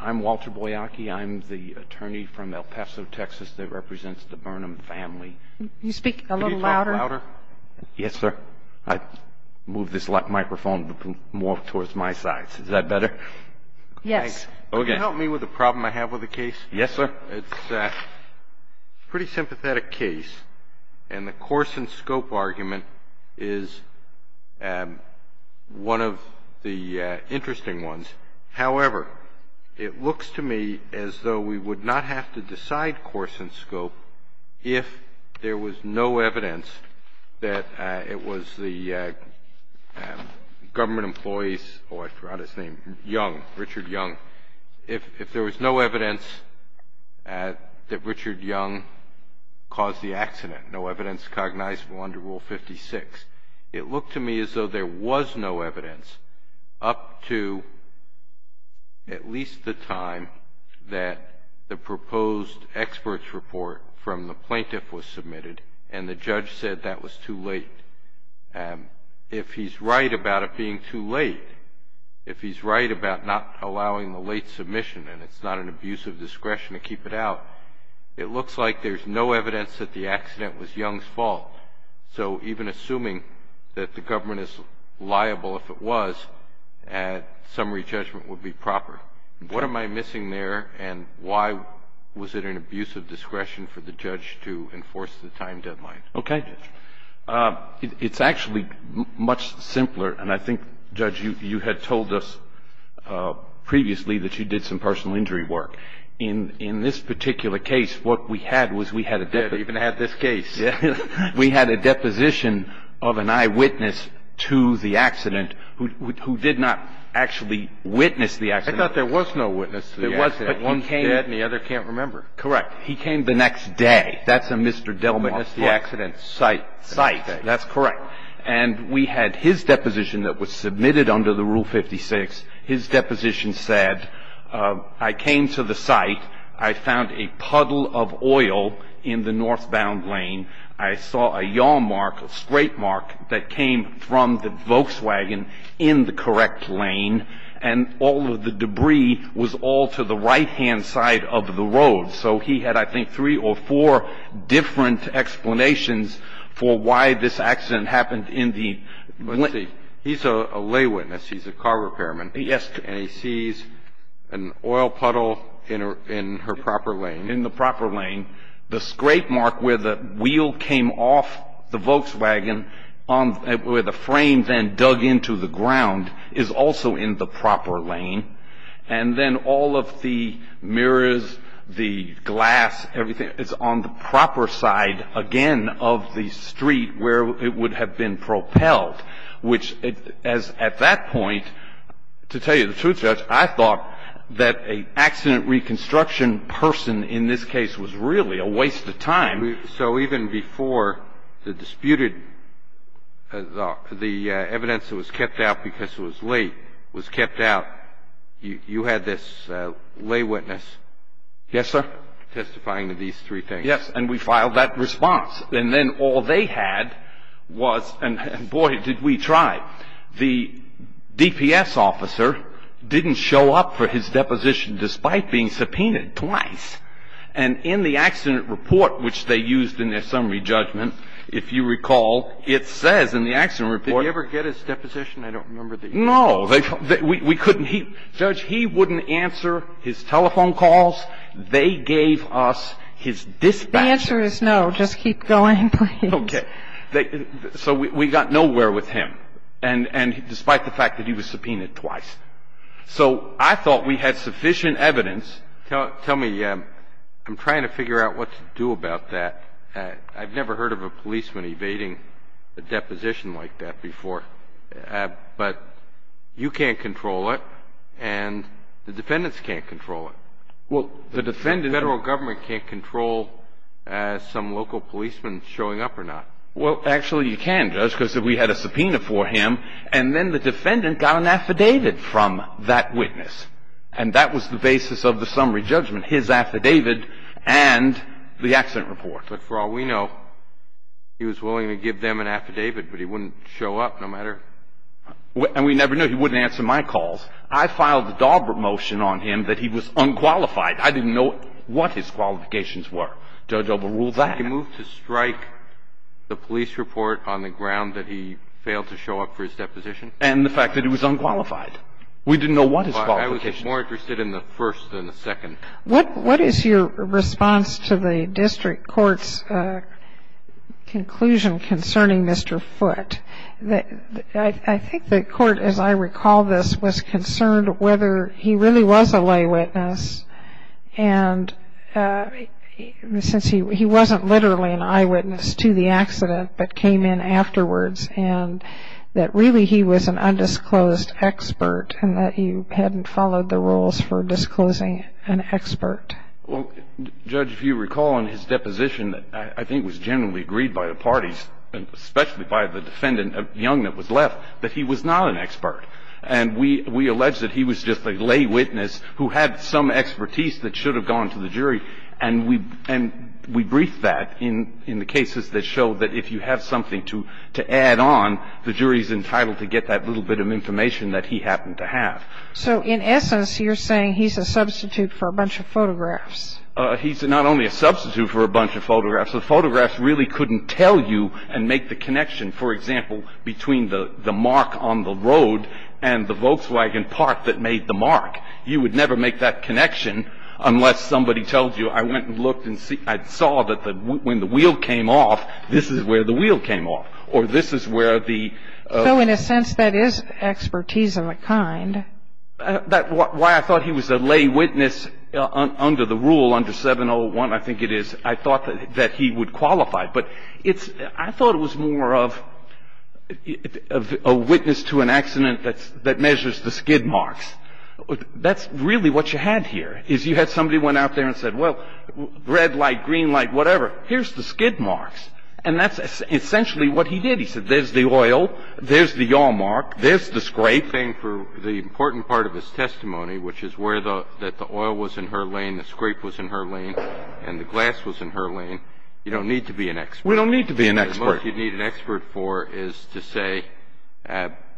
I'm Walter Boyacki. I'm the attorney from El Paso, Texas that represents the Burnham family. Can you speak a little louder? Yes, sir. I moved this microphone more towards my side. Is that better? Yes. Could you help me with a problem I have with the case? Yes, sir. It's a pretty sympathetic case, and the course and scope argument is one of the interesting ones. However, it looks to me as though we would not have to decide course and scope if there was no evidence that it was the government employees, oh, I forgot his name, Young, Richard Young. If there was no evidence that Richard Young caused the accident, no evidence cognizable under Rule 56, it looked to me as though there was no evidence up to at least the time that the proposed expert's report from the plaintiff was submitted and the judge said that was too late. If he's right about it being too late, if he's right about not allowing the late submission and it's not an abuse of discretion to keep it out, it looks like there's no evidence that the accident was Young's fault. So even assuming that the government is liable if it was, summary judgment would be proper. What am I missing there, and why was it an abuse of discretion for the judge to enforce the time deadline? Okay. It's actually much simpler, and I think, Judge, you had told us previously that you did some personal injury work. In this particular case, what we had was we had a debit. We even had this case. We had a deposition of an eyewitness to the accident who did not actually witness the accident. I thought there was no witness to the accident. There wasn't. One's dead and the other can't remember. Correct. He came the next day. That's a Mr. Delmont site. Site. That's correct. And we had his deposition that was submitted under the Rule 56. His deposition said, I came to the site. I found a puddle of oil in the northbound lane. I saw a yaw mark, a straight mark, that came from the Volkswagen in the correct lane, and all of the debris was all to the right-hand side of the road. So he had, I think, three or four different explanations for why this accident happened in the... Yes. And he sees an oil puddle in her proper lane. In the proper lane. The straight mark where the wheel came off the Volkswagen, where the frame then dug into the ground, is also in the proper lane. And then all of the mirrors, the glass, everything is on the proper side, again, of the street where it would have been propelled, which, as at that point, to tell you the truth, Judge, I thought that an accident reconstruction person in this case was really a waste of time. So even before the disputed, the evidence that was kept out because it was late was kept out, you had this lay witness. Yes, sir. Testifying to these three things. Yes. And we filed that response. And then all they had was, and boy, did we try. The DPS officer didn't show up for his deposition despite being subpoenaed twice. And in the accident report, which they used in their summary judgment, if you recall, it says in the accident report... Did he ever get his deposition? I don't remember the... No. We couldn't. Judge, he wouldn't answer his telephone calls. They gave us his dispatches. The answer is no. Just keep going, please. Okay. So we got nowhere with him, and despite the fact that he was subpoenaed twice. So I thought we had sufficient evidence. Tell me, I'm trying to figure out what to do about that. I've never heard of a policeman evading a deposition like that before. But you can't control it, and the defendants can't control it. Well, the defendant... The federal government can't control some local policeman showing up or not. Well, actually you can, Judge, because we had a subpoena for him, and then the defendant got an affidavit from that witness. And that was the basis of the summary judgment, his affidavit and the accident report. But for all we know, he was willing to give them an affidavit, but he wouldn't show up no matter... And we never knew. He wouldn't answer my calls. I filed a Daubert motion on him that he was unqualified. I didn't know what his qualifications were. Judge Ober ruled that. He moved to strike the police report on the ground that he failed to show up for his deposition? And the fact that he was unqualified. We didn't know what his qualifications were. I was more interested in the first than the second. What is your response to the district court's conclusion concerning Mr. Foote? I think the court, as I recall this, was concerned whether he really was a lay witness. And since he wasn't literally an eyewitness to the accident but came in afterwards, and that really he was an undisclosed expert and that you hadn't followed the rules for disclosing an expert. Well, Judge, if you recall in his deposition, I think it was generally agreed by the parties, especially by the defendant Young that was left, that he was not an expert. And we alleged that he was just a lay witness who had some expertise that should have gone to the jury. And we briefed that in the cases that showed that if you have something to add on, the jury is entitled to get that little bit of information that he happened to have. So in essence, you're saying he's a substitute for a bunch of photographs. He's not only a substitute for a bunch of photographs. The photographs really couldn't tell you and make the connection, for example, between the mark on the road and the Volkswagen part that made the mark. You would never make that connection unless somebody tells you, I went and looked and saw that when the wheel came off, this is where the wheel came off or this is where the. So in a sense, that is expertise of a kind. That's why I thought he was a lay witness under the rule, under 701, I think it is. I thought that he would qualify. But I thought it was more of a witness to an accident that measures the skid marks. That's really what you had here is you had somebody went out there and said, well, red light, green light, whatever. Here's the skid marks. And that's essentially what he did. He said, there's the oil. There's the yaw mark. There's the scrape. The important part of his testimony, which is where the oil was in her lane, the scrape was in her lane, and the glass was in her lane, you don't need to be an expert. We don't need to be an expert. The most you need an expert for is to say,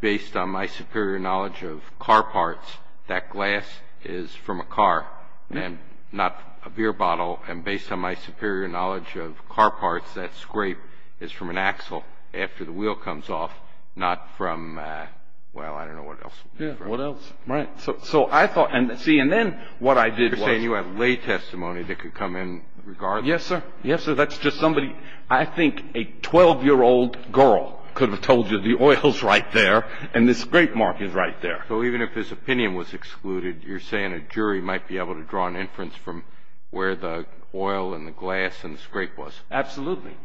based on my superior knowledge of car parts, that glass is from a car and not a beer bottle. And based on my superior knowledge of car parts, that scrape is from an axle after the wheel comes off, not from, well, I don't know what else. Yeah, what else? Right. So I thought, and see, and then what I did was. You're saying you had lay testimony that could come in regardless. Yes, sir. Yes, sir. That's just somebody, I think a 12-year-old girl could have told you the oil's right there and the scrape mark is right there. So even if his opinion was excluded, you're saying a jury might be able to draw an inference from where the oil and the glass and the scrape was. Absolutely.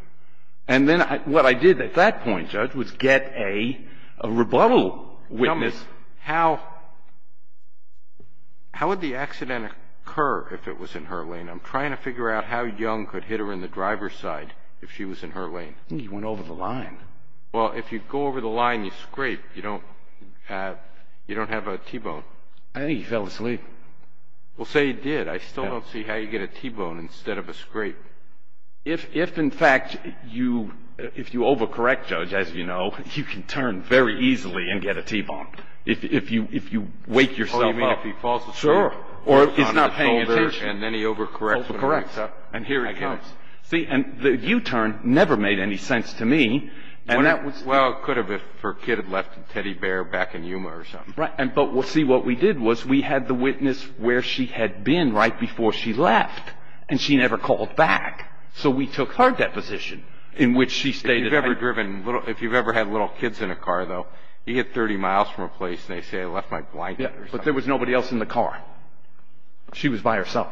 And then what I did at that point, Judge, was get a rebuttal witness. Tell me, how would the accident occur if it was in her lane? I'm trying to figure out how young could hit her in the driver's side if she was in her lane. You went over the line. Well, if you go over the line and you scrape, you don't have a T-bone. I think he fell asleep. Well, say he did. I still don't see how you get a T-bone instead of a scrape. If, in fact, if you overcorrect, Judge, as you know, you can turn very easily and get a T-bone if you wake yourself up. Oh, you mean if he falls asleep? Sure. Or if he's not paying attention. And then he overcorrects when he wakes up. Correct. And here he comes. See, and the U-turn never made any sense to me. Well, it could have if her kid had left a teddy bear back in Yuma or something. Right. But, see, what we did was we had the witness where she had been right before she left. And she never called back. So we took her deposition in which she stated. If you've ever had little kids in a car, though, you get 30 miles from a place and they say, I left my blanket or something. But there was nobody else in the car. She was by herself.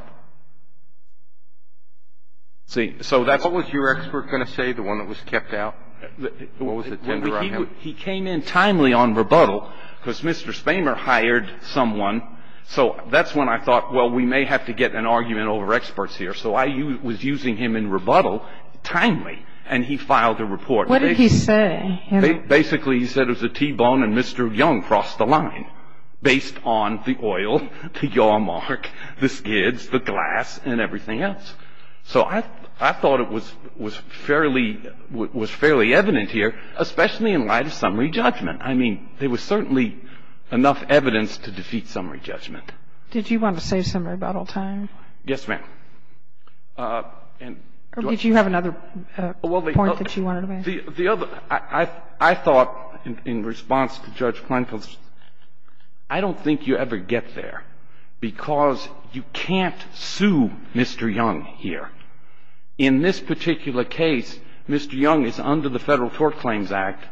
See, so that's. What was your expert going to say, the one that was kept out? What was it? He came in timely on rebuttal because Mr. Spamer hired someone. So that's when I thought, well, we may have to get an argument over experts here. So I was using him in rebuttal timely. And he filed a report. What did he say? Basically, he said it was a T-bone and Mr. Young crossed the line based on the oil, the yaw mark, the skids, the glass and everything else. So I thought it was fairly evident here, especially in light of summary judgment. I mean, there was certainly enough evidence to defeat summary judgment. Did you want to say some rebuttal time? Yes, ma'am. Or did you have another point that you wanted to make? I thought in response to Judge Kleinfeld, I don't think you ever get there because you can't sue Mr. Young here. In this particular case, Mr. Young is under the Federal Tort Claims Act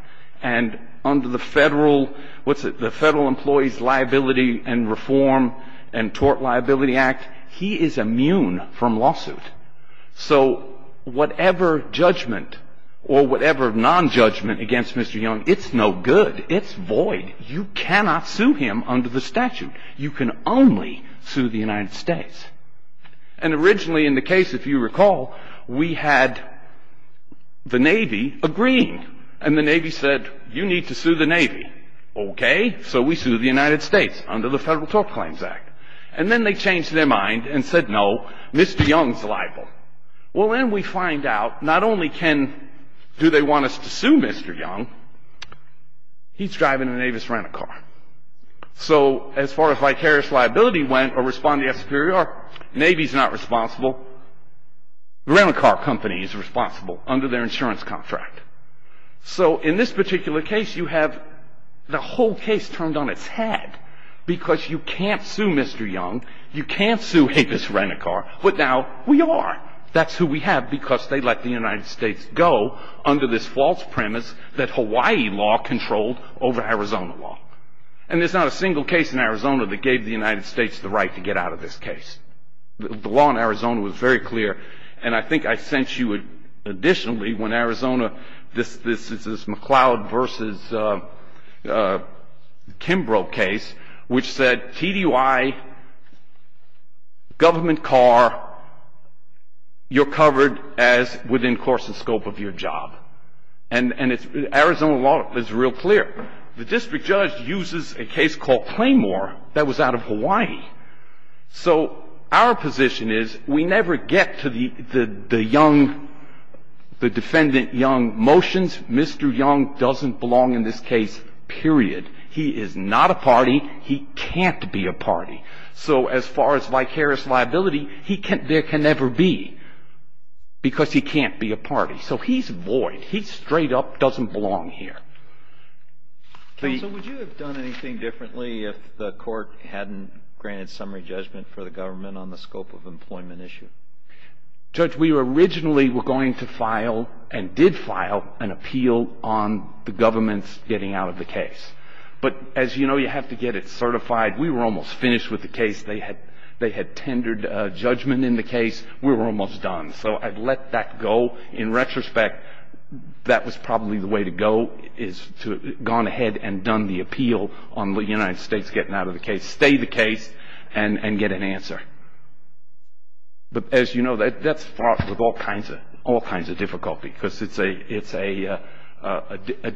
and under the Federal, what's it, the Federal Employees Liability and Reform and Tort Liability Act. He is immune from lawsuit. So whatever judgment or whatever non-judgment against Mr. Young, it's no good. It's void. You cannot sue him under the statute. You can only sue the United States. And originally in the case, if you recall, we had the Navy agreeing. And the Navy said, you need to sue the Navy. Okay. So we sued the United States under the Federal Tort Claims Act. And then they changed their mind and said, no, Mr. Young's liable. Well, then we find out not only can, do they want us to sue Mr. Young, he's driving a Navy's rental car. So as far as vicarious liability went or responding as superior, Navy's not responsible. The rental car company is responsible under their insurance contract. So in this particular case, you have the whole case turned on its head because you can't sue Mr. Young. You can't sue a business rental car. But now we are. That's who we have because they let the United States go under this false premise that Hawaii law controlled over Arizona law. And there's not a single case in Arizona that gave the United States the right to get out of this case. The law in Arizona was very clear. And I think I sent you additionally when Arizona, this is McLeod versus Kimbrough case, which said TDY, government car, you're covered as within course and scope of your job. And Arizona law is real clear. The district judge uses a case called Claymore that was out of Hawaii. So our position is we never get to the Young, the defendant Young motions. Mr. Young doesn't belong in this case, period. He is not a party. He can't be a party. So as far as vicarious liability, there can never be because he can't be a party. So he's void. He straight up doesn't belong here. Counsel, would you have done anything differently if the court hadn't granted summary judgment for the government on the scope of employment issue? Judge, we originally were going to file and did file an appeal on the government's getting out of the case. But as you know, you have to get it certified. We were almost finished with the case. They had tendered a judgment in the case. We were almost done. So I let that go. In retrospect, that was probably the way to go is to have gone ahead and done the appeal on the United States getting out of the case, stay the case, and get an answer. But as you know, that's fought with all kinds of difficulty because it's a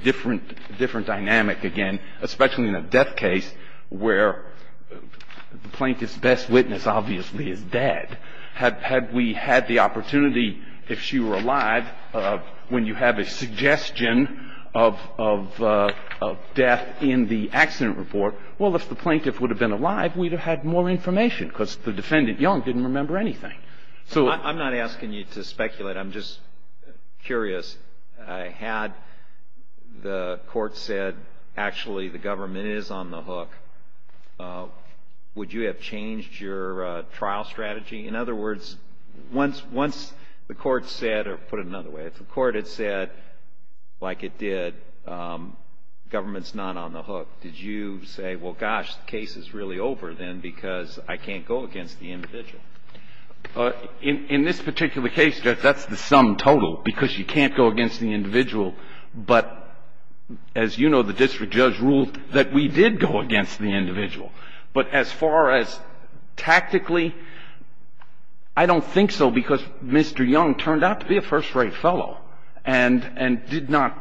different dynamic again, especially in a death case where the plaintiff's best witness obviously is dead. Had we had the opportunity, if she were alive, when you have a suggestion of death in the accident report, well, if the plaintiff would have been alive, we'd have had more information because the defendant young didn't remember anything. I'm not asking you to speculate. I'm just curious. Had the court said, actually, the government is on the hook, would you have changed your trial strategy? In other words, once the court said, or put it another way, if the court had said, like it did, government's not on the hook, did you say, well, gosh, the case is really over then because I can't go against the individual? In this particular case, Judge, that's the sum total because you can't go against the individual. But as you know, the district judge ruled that we did go against the individual. But as far as tactically, I don't think so because Mr. Young turned out to be a first-rate fellow and did not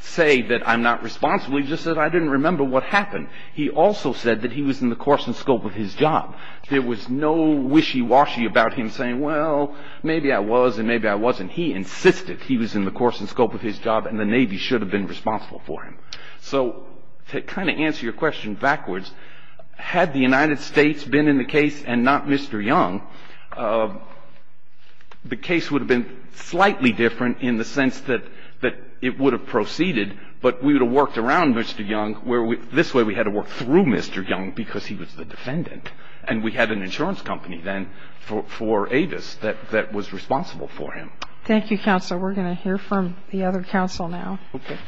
say that I'm not responsible, he just said I didn't remember what happened. He also said that he was in the course and scope of his job. There was no wishy-washy about him saying, well, maybe I was and maybe I wasn't. He insisted he was in the course and scope of his job and the Navy should have been responsible for him. So to kind of answer your question backwards, had the United States been in the case and not Mr. Young, the case would have been slightly different in the sense that it would have proceeded, but we would have worked around Mr. Young. This way we had to work through Mr. Young because he was the defendant. And we had an insurance company then for Avis that was responsible for him. Thank you, Counsel. We're going to hear from the other counsel now. Okay.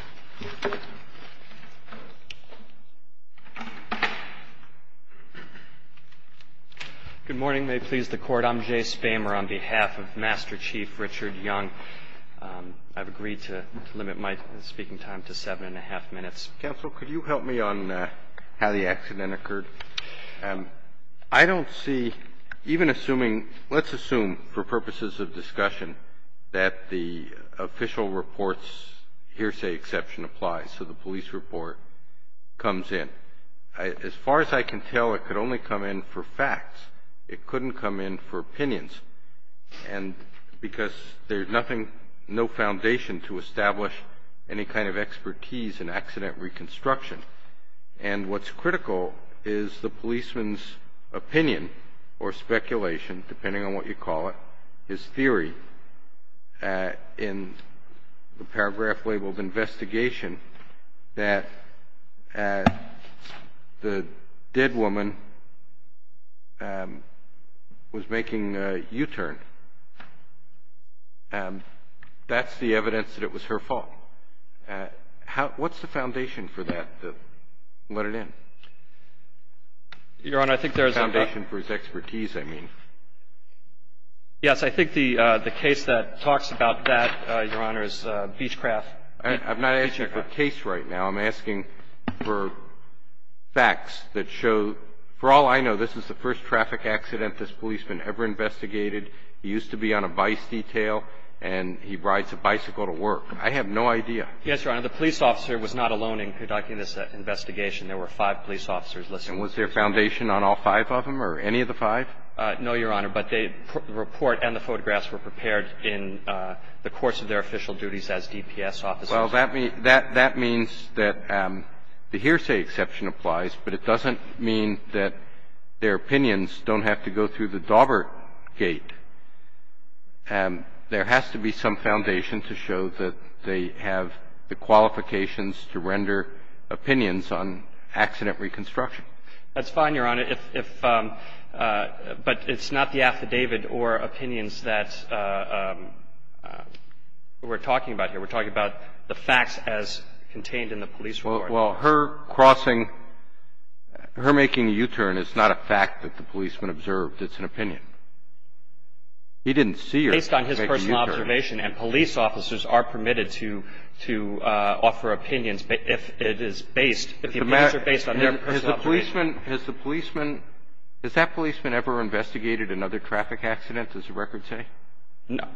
Good morning. May it please the Court. I'm Jay Spamer on behalf of Master Chief Richard Young. I've agreed to limit my speaking time to seven and a half minutes. Counsel, could you help me on how the accident occurred? I don't see even assuming, let's assume for purposes of discussion, that the official report's hearsay exception applies, so the police report comes in. As far as I can tell, it could only come in for facts. It couldn't come in for opinions. And because there's no foundation to establish any kind of expertise in accident reconstruction. And what's critical is the policeman's opinion or speculation, depending on what you call it, his theory in the paragraph labeled investigation that the dead woman was making a U-turn. That's the evidence that it was her fault. What's the foundation for that? Let it in. Your Honor, I think there's a... The foundation for his expertise, I mean. Yes, I think the case that talks about that, Your Honor, is Beechcraft. I'm not asking for case right now. I'm asking for facts that show, for all I know, this is the first traffic accident this policeman ever investigated. He used to be on a vice detail, and he rides a bicycle to work. I have no idea. Yes, Your Honor. The police officer was not alone in conducting this investigation. There were five police officers listed. And was there a foundation on all five of them or any of the five? No, Your Honor, but the report and the photographs were prepared in the course of their official duties as DPS officers. Well, that means that the hearsay exception applies, but it doesn't mean that their opinions don't have to go through the Daubert gate. There has to be some foundation to show that they have the qualifications to render opinions on accident reconstruction. That's fine, Your Honor. But it's not the affidavit or opinions that we're talking about here. We're talking about the facts as contained in the police report. Well, her crossing, her making a U-turn is not a fact that the policeman observed. It's an opinion. He didn't see her make a U-turn. Based on his personal observation. And police officers are permitted to offer opinions if it is based, if the opinions are based on their personal observation. Has the policeman, has that policeman ever investigated another traffic accident, does the record say? No.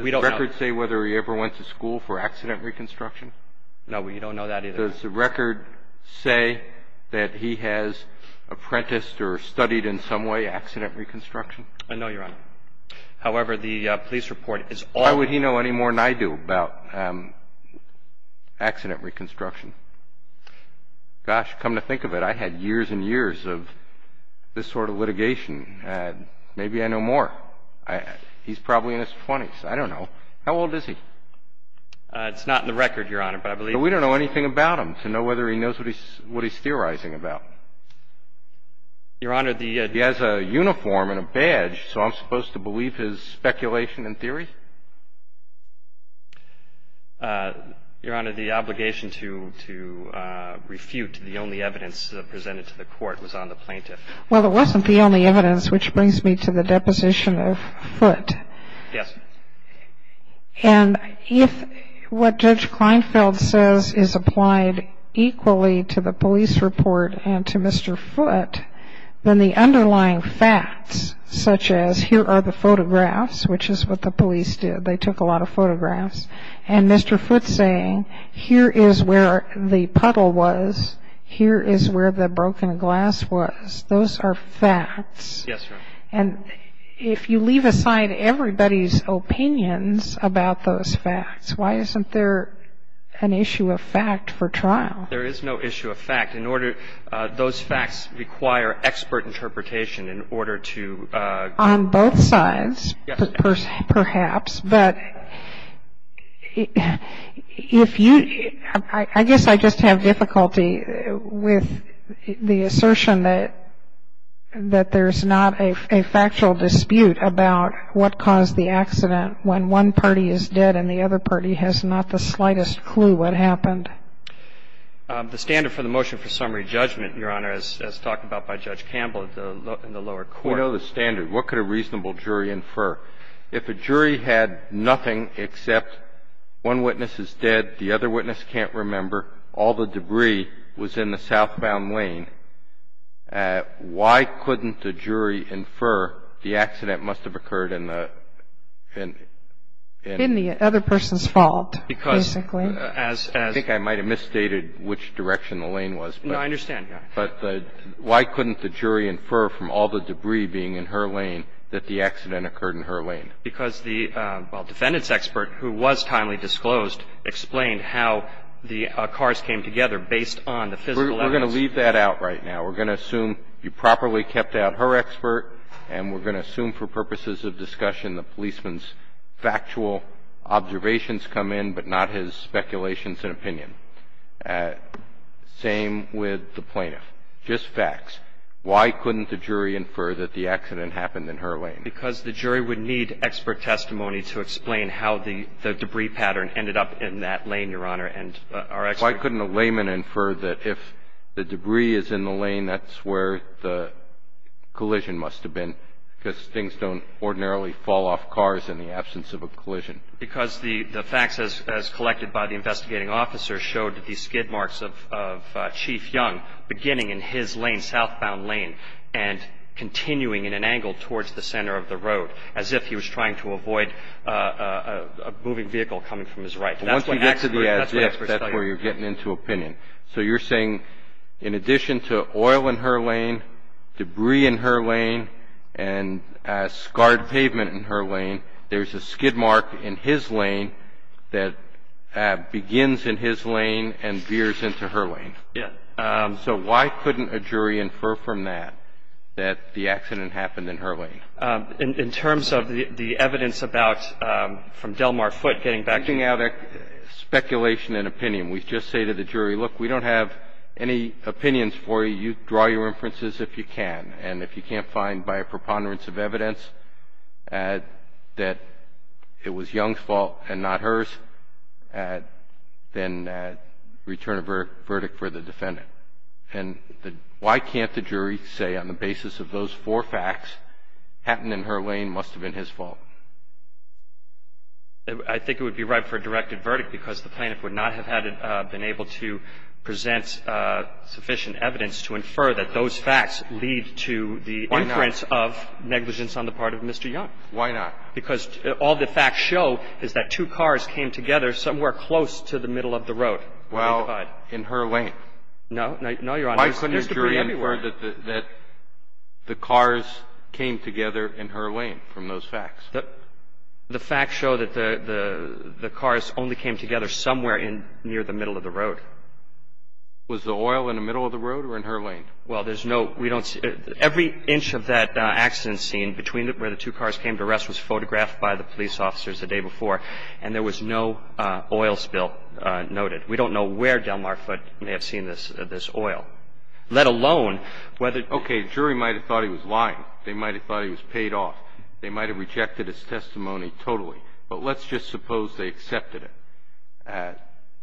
We don't know. Does the record say whether he ever went to school for accident reconstruction? No, we don't know that either. Does the record say that he has apprenticed or studied in some way accident reconstruction? No, Your Honor. However, the police report is all. How would he know any more than I do about accident reconstruction? Gosh, come to think of it, I had years and years of this sort of litigation. Maybe I know more. He's probably in his 20s. I don't know. How old is he? It's not in the record, Your Honor, but I believe. But we don't know anything about him to know whether he knows what he's theorizing about. Your Honor, the... He has a uniform and a badge, so I'm supposed to believe his speculation and theory? Your Honor, the obligation to refute the only evidence presented to the court was on the plaintiff. Well, it wasn't the only evidence, which brings me to the deposition of Foote. Yes. And if what Judge Kleinfeld says is applied equally to the police report and to Mr. Foote, then the underlying facts, such as here are the photographs, which is what the police did. They took a lot of photographs. And Mr. Foote's saying here is where the puddle was, here is where the broken glass was. Those are facts. Yes, Your Honor. And if you leave aside everybody's opinions about those facts, why isn't there an issue of fact for trial? There is no issue of fact. Those facts require expert interpretation in order to... On both sides. Yes. Perhaps. But if you... I guess I just have difficulty with the assertion that there's not a factual dispute about what caused the accident when one party is dead and the other party has not the slightest clue what happened. The standard for the motion for summary judgment, Your Honor, as talked about by Judge Campbell in the lower court. We know the standard. What could a reasonable jury infer? If a jury had nothing except one witness is dead, the other witness can't remember, all the debris was in the southbound lane, why couldn't the jury infer the accident must have occurred in the... In the other person's fault, basically. As... I think I might have misstated which direction the lane was. No, I understand, Your Honor. But why couldn't the jury infer from all the debris being in her lane that the accident occurred in her lane? Because the, well, defendant's expert, who was timely disclosed, explained how the cars came together based on the physical evidence. We're going to leave that out right now. We're going to assume you properly kept out her expert, and we're going to assume for purposes of discussion the policeman's factual observations come in, but not his speculations and opinion. Same with the plaintiff. Just facts. Why couldn't the jury infer that the accident happened in her lane? Because the jury would need expert testimony to explain how the debris pattern ended up in that lane, Your Honor, and our expert... Why couldn't a layman infer that if the debris is in the lane, that's where the collision must have been, because things don't ordinarily fall off cars in the absence of a collision. Because the facts, as collected by the investigating officer, showed the skid marks of Chief Young beginning in his lane, southbound lane, and continuing in an angle towards the center of the road, as if he was trying to avoid a moving vehicle coming from his right. Once you get to the expert, that's where you're getting into opinion. So you're saying in addition to oil in her lane, debris in her lane, and scarred pavement in her lane, there's a skid mark in his lane that begins in his lane and veers into her lane. Yes. So why couldn't a jury infer from that that the accident happened in her lane? In terms of the evidence from Delmar Foote getting back to you... Look, we don't have any opinions for you. You draw your inferences if you can. And if you can't find by a preponderance of evidence that it was Young's fault and not hers, then return a verdict for the defendant. And why can't the jury say on the basis of those four facts, happened in her lane, must have been his fault? I think it would be right for a directed verdict because the plaintiff would not have been able to present sufficient evidence to infer that those facts lead to the inference of negligence on the part of Mr. Young. Why not? Because all the facts show is that two cars came together somewhere close to the middle of the road. Well, in her lane. No. No, Your Honor. Why couldn't a jury infer that the cars came together in her lane from those facts? The facts show that the cars only came together somewhere in near the middle of the road. Was the oil in the middle of the road or in her lane? Well, there's no... We don't see... Every inch of that accident scene between where the two cars came to rest was photographed by the police officers the day before, and there was no oil spill noted. We don't know where Delmar Foote may have seen this oil, let alone whether... Okay. The jury might have thought he was lying. They might have thought he was paid off. They might have rejected his testimony totally. But let's just suppose they accepted it.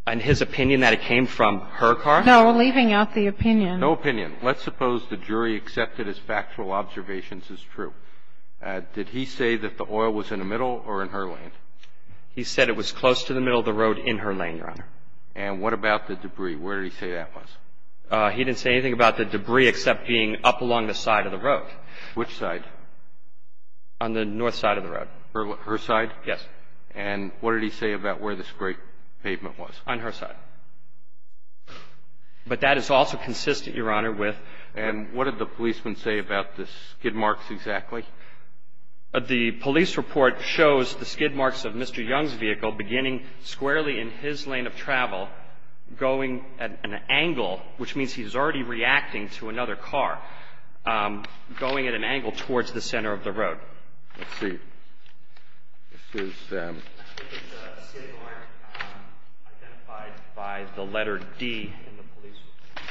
And his opinion that it came from her car? No, leaving out the opinion. No opinion. Let's suppose the jury accepted his factual observations as true. Did he say that the oil was in the middle or in her lane? He said it was close to the middle of the road in her lane, Your Honor. And what about the debris? Where did he say that was? He didn't say anything about the debris except being up along the side of the road. Which side? On the north side of the road. Her side? Yes. And what did he say about where this great pavement was? On her side. But that is also consistent, Your Honor, with... And what did the policemen say about the skid marks exactly? The police report shows the skid marks of Mr. Young's vehicle beginning squarely in his lane of travel, going at an angle, which means he's already reacting to another car, going at an angle towards the center of the road. Let's see. This is... This is a skid mark identified by the letter D in the police report.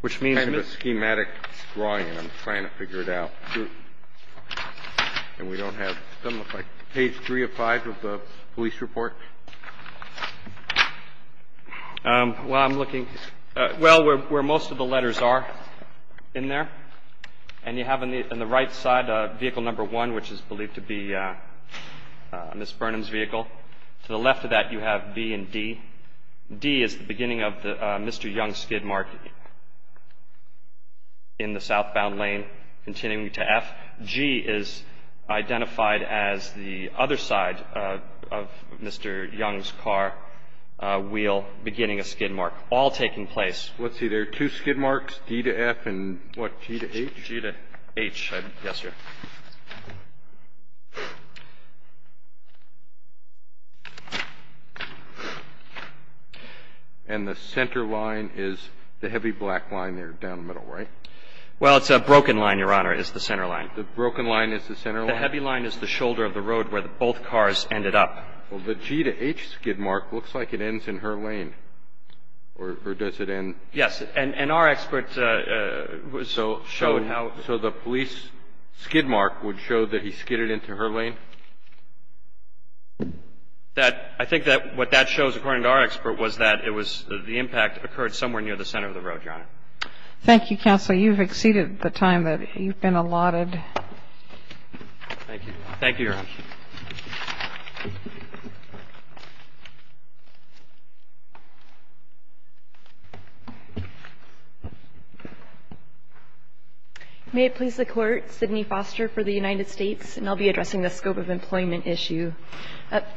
Which means... Kind of a schematic drawing, and I'm trying to figure it out. And we don't have... Page 3 of 5 of the police report? Well, I'm looking... Well, where most of the letters are in there. And you have on the right side vehicle number 1, which is believed to be Ms. Burnham's vehicle. To the left of that, you have B and D. D is the beginning of Mr. Young's skid mark in the southbound lane, continuing to F. G is identified as the other side of Mr. Young's car wheel beginning a skid mark, all taking place. Let's see. There are two skid marks, D to F and what, G to H? G to H. Yes, sir. And the center line is the heavy black line there down the middle, right? Well, it's a broken line, Your Honor, is the center line. The broken line is the center line? The heavy line is the shoulder of the road where both cars ended up. Well, the G to H skid mark looks like it ends in her lane. Or does it end... Yes. And our experts showed how... So the police skid mark would show that he skidded into her lane? I think that what that shows, according to our expert, was that it was the impact occurred somewhere near the center of the road, Your Honor. Thank you, counsel. You've exceeded the time that you've been allotted. Thank you. Thank you, Your Honor. May it please the Court. Sydney Foster for the United States, and I'll be addressing the scope of employment issue.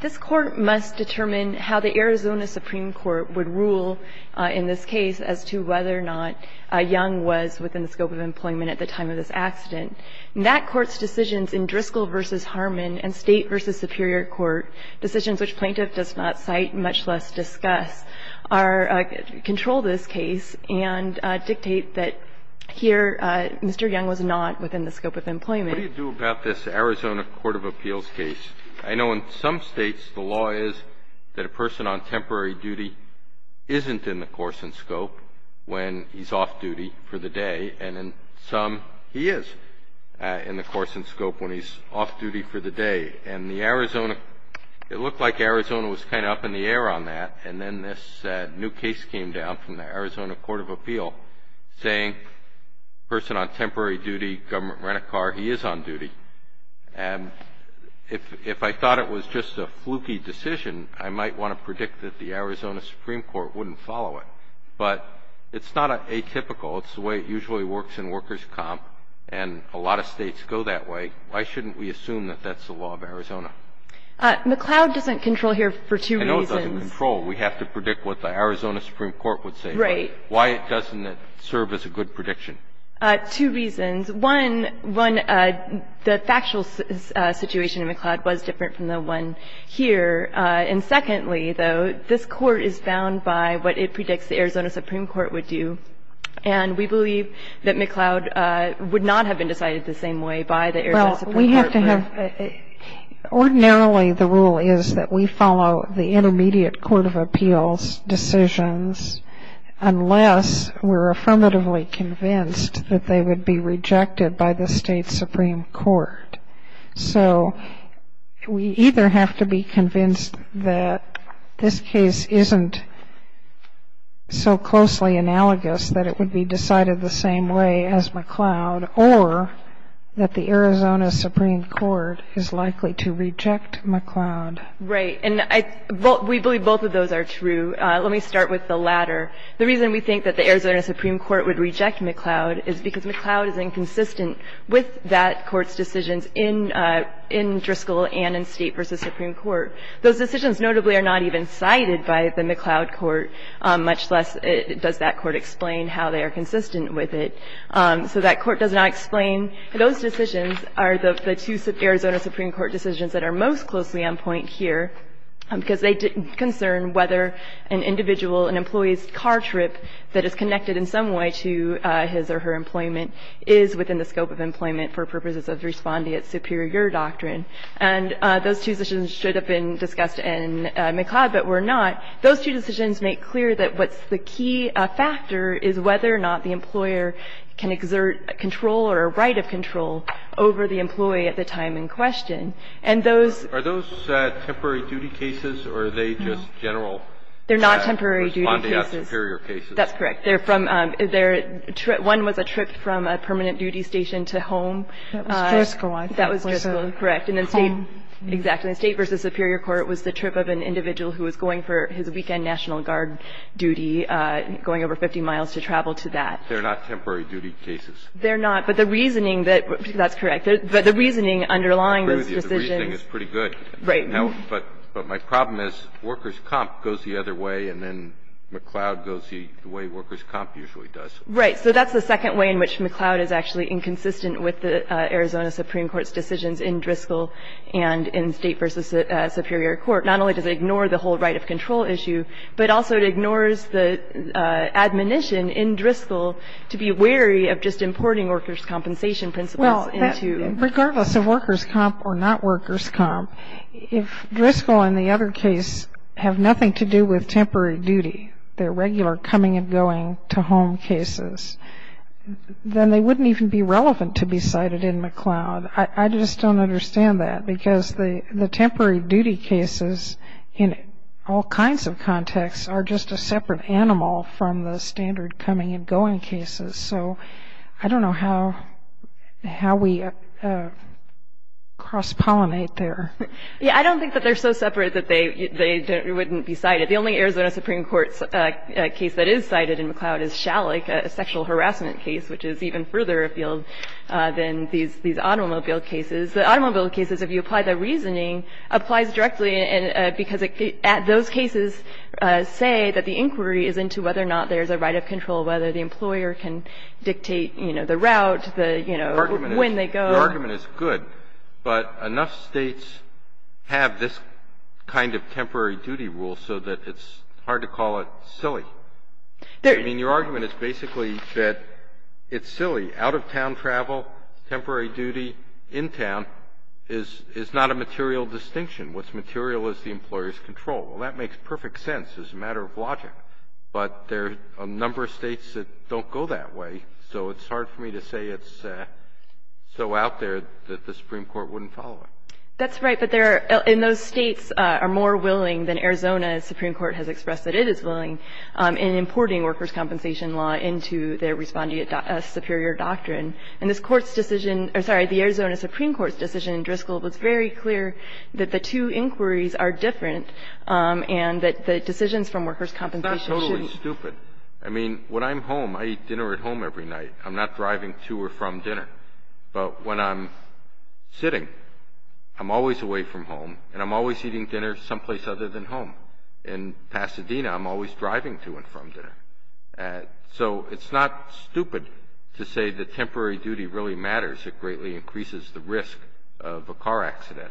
This Court must determine how the Arizona Supreme Court would rule in this case as to whether or not Young was within the scope of employment at the time of this accident. That Court's decisions in Driscoll v. Harmon and State v. Superior Court, decisions which plaintiff does not cite, much less discuss, are to control this case and dictate that here Mr. Young was not within the scope of employment. What do you do about this Arizona court of appeals case? I know in some states the law is that a person on temporary duty isn't in the course and scope when he's off duty for the day, and in some he is in the course and scope when he's off duty for the day. And the Arizona, it looked like Arizona was kind of up in the air on that, and then this new case came down from the Arizona court of appeal saying person on temporary duty, government rent-a-car, he is on duty. If I thought it was just a fluky decision, I might want to predict that the Arizona Supreme Court wouldn't follow it. But it's not atypical. It's the way it usually works in workers' comp, and a lot of states go that way. Why shouldn't we assume that that's the law of Arizona? McCloud doesn't control here for two reasons. I know it doesn't control. We have to predict what the Arizona Supreme Court would say. Right. Why doesn't it serve as a good prediction? Two reasons. One, the factual situation in McCloud was different from the one here. And secondly, though, this court is bound by what it predicts the Arizona Supreme Court would do. And we believe that McCloud would not have been decided the same way by the Arizona Supreme Court. Well, we have to have ‑‑ ordinarily the rule is that we follow the intermediate court of appeals decisions unless we're affirmatively convinced that they would be rejected by the state Supreme Court. So we either have to be convinced that this case isn't so closely analogous that it would be decided the same way as McCloud, or that the Arizona Supreme Court is likely to reject McCloud. Right. And I ‑‑ we believe both of those are true. Let me start with the latter. The reason we think that the Arizona Supreme Court would reject McCloud is because in Driscoll and in State v. Supreme Court, those decisions notably are not even cited by the McCloud court, much less does that court explain how they are consistent with it. So that court does not explain. Those decisions are the two Arizona Supreme Court decisions that are most closely on point here, because they concern whether an individual, an employee's car trip that is connected in some way to his or her employment is within the scope of employment for purposes of respondeat superior doctrine. And those two decisions should have been discussed in McCloud, but were not. Those two decisions make clear that what's the key factor is whether or not the employer can exert control or a right of control over the employee at the time in question. And those ‑‑ Are those temporary duty cases, or are they just general respondeat superior cases? They're not temporary duty cases. That's correct. They're from ‑‑ one was a trip from a permanent duty station to home. That was Driscoll. That was Driscoll, correct. And then State ‑‑ Home. Exactly. State v. Superior Court was the trip of an individual who was going for his weekend National Guard duty, going over 50 miles to travel to that. They're not temporary duty cases. They're not. But the reasoning that ‑‑ that's correct. But the reasoning underlying those decisions ‑‑ The reasoning is pretty good. Right. But my problem is workers' comp goes the other way, and then McCloud goes the way workers' comp usually does. Right. So that's the second way in which McCloud is actually inconsistent with the Arizona Supreme Court's decisions in Driscoll and in State v. Superior Court. Not only does it ignore the whole right of control issue, but also it ignores the admonition in Driscoll to be wary of just importing workers' compensation principles into ‑‑ If Driscoll and the other case have nothing to do with temporary duty, their regular coming and going to home cases, then they wouldn't even be relevant to be cited in McCloud. I just don't understand that because the temporary duty cases in all kinds of contexts are just a separate animal from the standard coming and going cases. So I don't know how we cross‑pollinate there. Yeah. I don't think that they're so separate that they wouldn't be cited. The only Arizona Supreme Court case that is cited in McCloud is Shalik, a sexual harassment case which is even further afield than these automobile cases. The automobile cases, if you apply the reasoning, applies directly because those cases say that the inquiry is into whether or not there's a right of control, whether the employer can dictate, you know, the route, the, you know, when they go. Your argument is good, but enough states have this kind of temporary duty rule so that it's hard to call it silly. I mean, your argument is basically that it's silly. Out‑of‑town travel, temporary duty in town is not a material distinction. What's material is the employer's control. Well, that makes perfect sense as a matter of logic, but there are a number of states that don't go that way, so it's hard for me to say it's so out there that the Supreme Court wouldn't follow it. That's right. But there are ‑‑ and those states are more willing than Arizona's Supreme Court has expressed that it is willing in importing workers' compensation law into their responding to a superior doctrine. And this Court's decision ‑‑ or, sorry, the Arizona Supreme Court's decision in Driscoll was very clear that the two inquiries are different and that the decisions from workers' compensation shouldn't ‑‑ It's not totally stupid. I mean, when I'm home, I eat dinner at home every night. I'm not driving to or from dinner. But when I'm sitting, I'm always away from home, and I'm always eating dinner someplace other than home. In Pasadena, I'm always driving to and from dinner. So it's not stupid to say that temporary duty really matters. It greatly increases the risk of a car accident.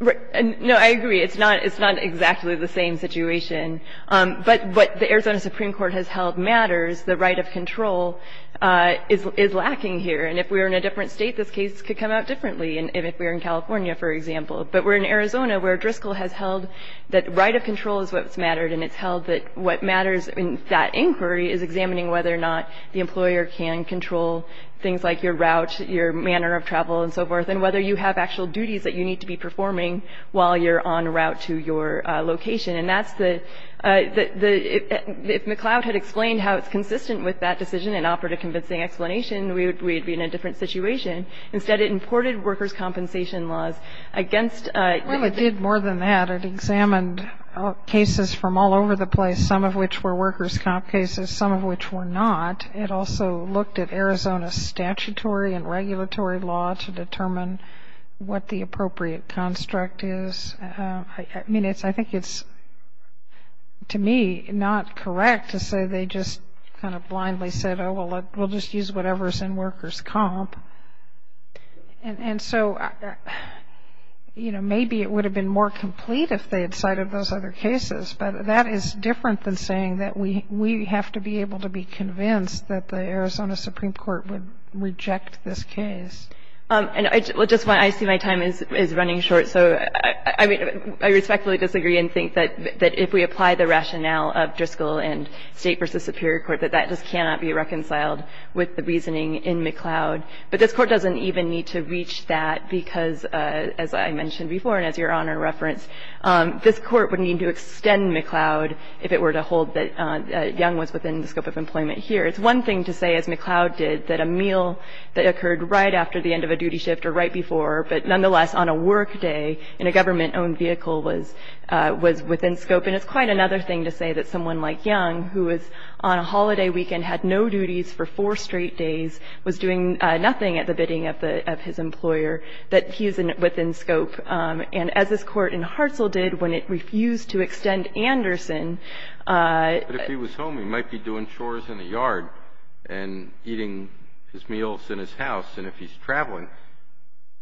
No, I agree. It's not exactly the same situation. But what the Arizona Supreme Court has held matters. The right of control is lacking here. And if we were in a different state, this case could come out differently, even if we were in California, for example. But we're in Arizona where Driscoll has held that right of control is what's mattered, and it's held that what matters in that inquiry is examining whether or not the employer can control things like your route, your manner of travel, and so forth, and whether you have actual duties that you need to be performing while you're en route to your location. And that's the – if McCloud had explained how it's consistent with that decision and offered a convincing explanation, we would be in a different situation. Instead, it imported workers' compensation laws against – Well, it did more than that. It examined cases from all over the place, some of which were workers' comp cases, some of which were not. It also looked at Arizona's statutory and regulatory law to determine what the appropriate construct is. I mean, I think it's, to me, not correct to say they just kind of blindly said, oh, well, we'll just use whatever's in workers' comp. And so, you know, maybe it would have been more complete if they had cited those other cases, but that is different than saying that we have to be able to be convinced that the Arizona Supreme Court would reject this case. And I just want – I see my time is running short, so I respectfully disagree and think that if we apply the rationale of Driscoll and State versus Superior Court, that that just cannot be reconciled with the reasoning in McCloud. But this Court doesn't even need to reach that because, as I mentioned before, and as Your Honor referenced, this Court would need to extend McCloud if it were to hold that Young was within the scope of employment here. It's one thing to say, as McCloud did, that a meal that occurred right after the end of a duty shift or right before, but nonetheless on a work day in a government-owned vehicle was within scope. And it's quite another thing to say that someone like Young, who was on a holiday weekend, had no duties for four straight days, was doing nothing at the bidding of his employer, that he is within scope. And as this Court in Hartzell did when it refused to extend Anderson. But if he was home, he might be doing chores in the yard and eating his meals in his house, and if he's traveling,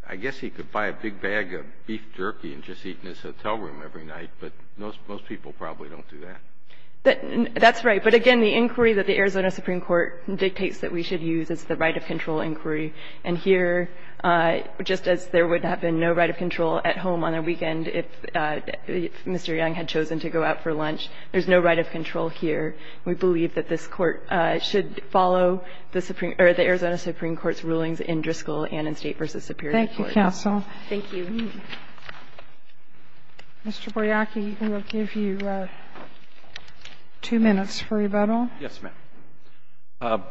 I guess he could buy a big bag of beef jerky and just eat in his hotel room every night. But most people probably don't do that. That's right. But again, the inquiry that the Arizona Supreme Court dictates that we should use is the right of control inquiry. And here, just as there would have been no right of control at home on a weekend if Mr. Young had chosen to go out for lunch, there's no right of control here. We believe that this Court should follow the Arizona Supreme Court's rulings in Driscoll and in State v. Superior Court. Thank you, counsel. Thank you. Mr. Boriaki, we will give you two minutes for rebuttal. Yes, ma'am.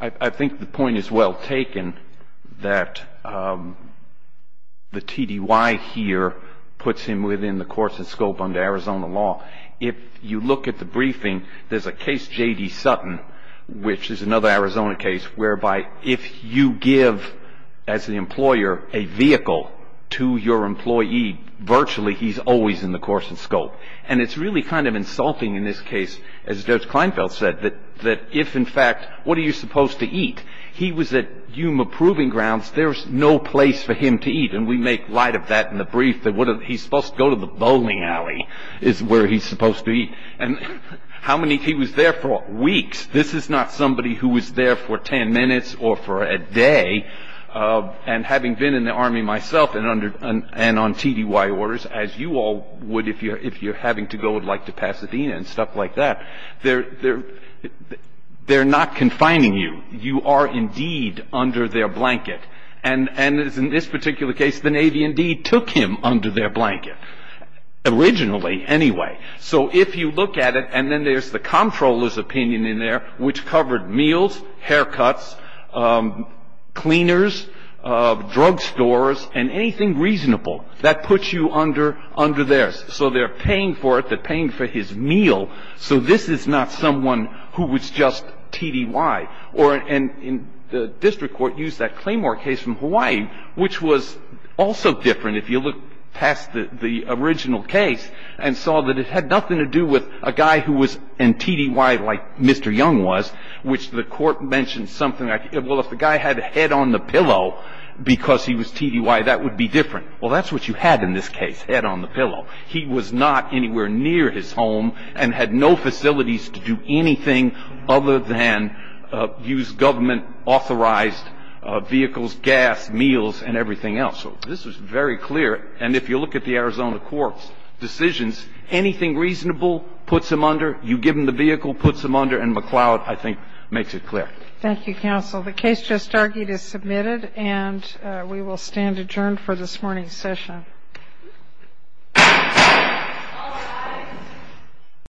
I think the point is well taken that the TDY here puts him within the course and scope under Arizona law. If you look at the briefing, there's a case J.D. Sutton, which is another Arizona case, whereby if you give, as the employer, a vehicle to your employee, virtually he's always in the course and scope. And it's really kind of insulting in this case, as Judge Kleinfeld said, that if in fact what are you supposed to eat? He was at Yuma Proving Grounds. There was no place for him to eat. And we make light of that in the brief that he's supposed to go to the bowling alley is where he's supposed to eat. And how many, he was there for weeks. This is not somebody who was there for 10 minutes or for a day. And having been in the Army myself and on TDY orders, as you all would if you're having to go to Pasadena and stuff like that, they're not confining you. You are indeed under their blanket. And in this particular case, the Navy indeed took him under their blanket, originally anyway. So if you look at it, and then there's the comptroller's opinion in there, which covered meals, haircuts, cleaners, drug stores, and anything reasonable that puts you under theirs. So they're paying for it. They're paying for his meal. So this is not someone who was just TDY. And the district court used that Claymore case from Hawaii, which was also different if you look past the original case and saw that it had nothing to do with a guy who was in TDY like Mr. Young was, which the court mentioned something like, well, if the guy had a head on the pillow because he was TDY, that would be different. Well, that's what you had in this case, head on the pillow. He was not anywhere near his home and had no facilities to do anything other than use government-authorized vehicles, gas, meals, and everything else. So this was very clear. And if you look at the Arizona court's decisions, anything reasonable puts him under. You give him the vehicle, puts him under, and McCloud, I think, makes it clear. Thank you, counsel. The case just argued is submitted, and we will stand adjourned for this morning's session.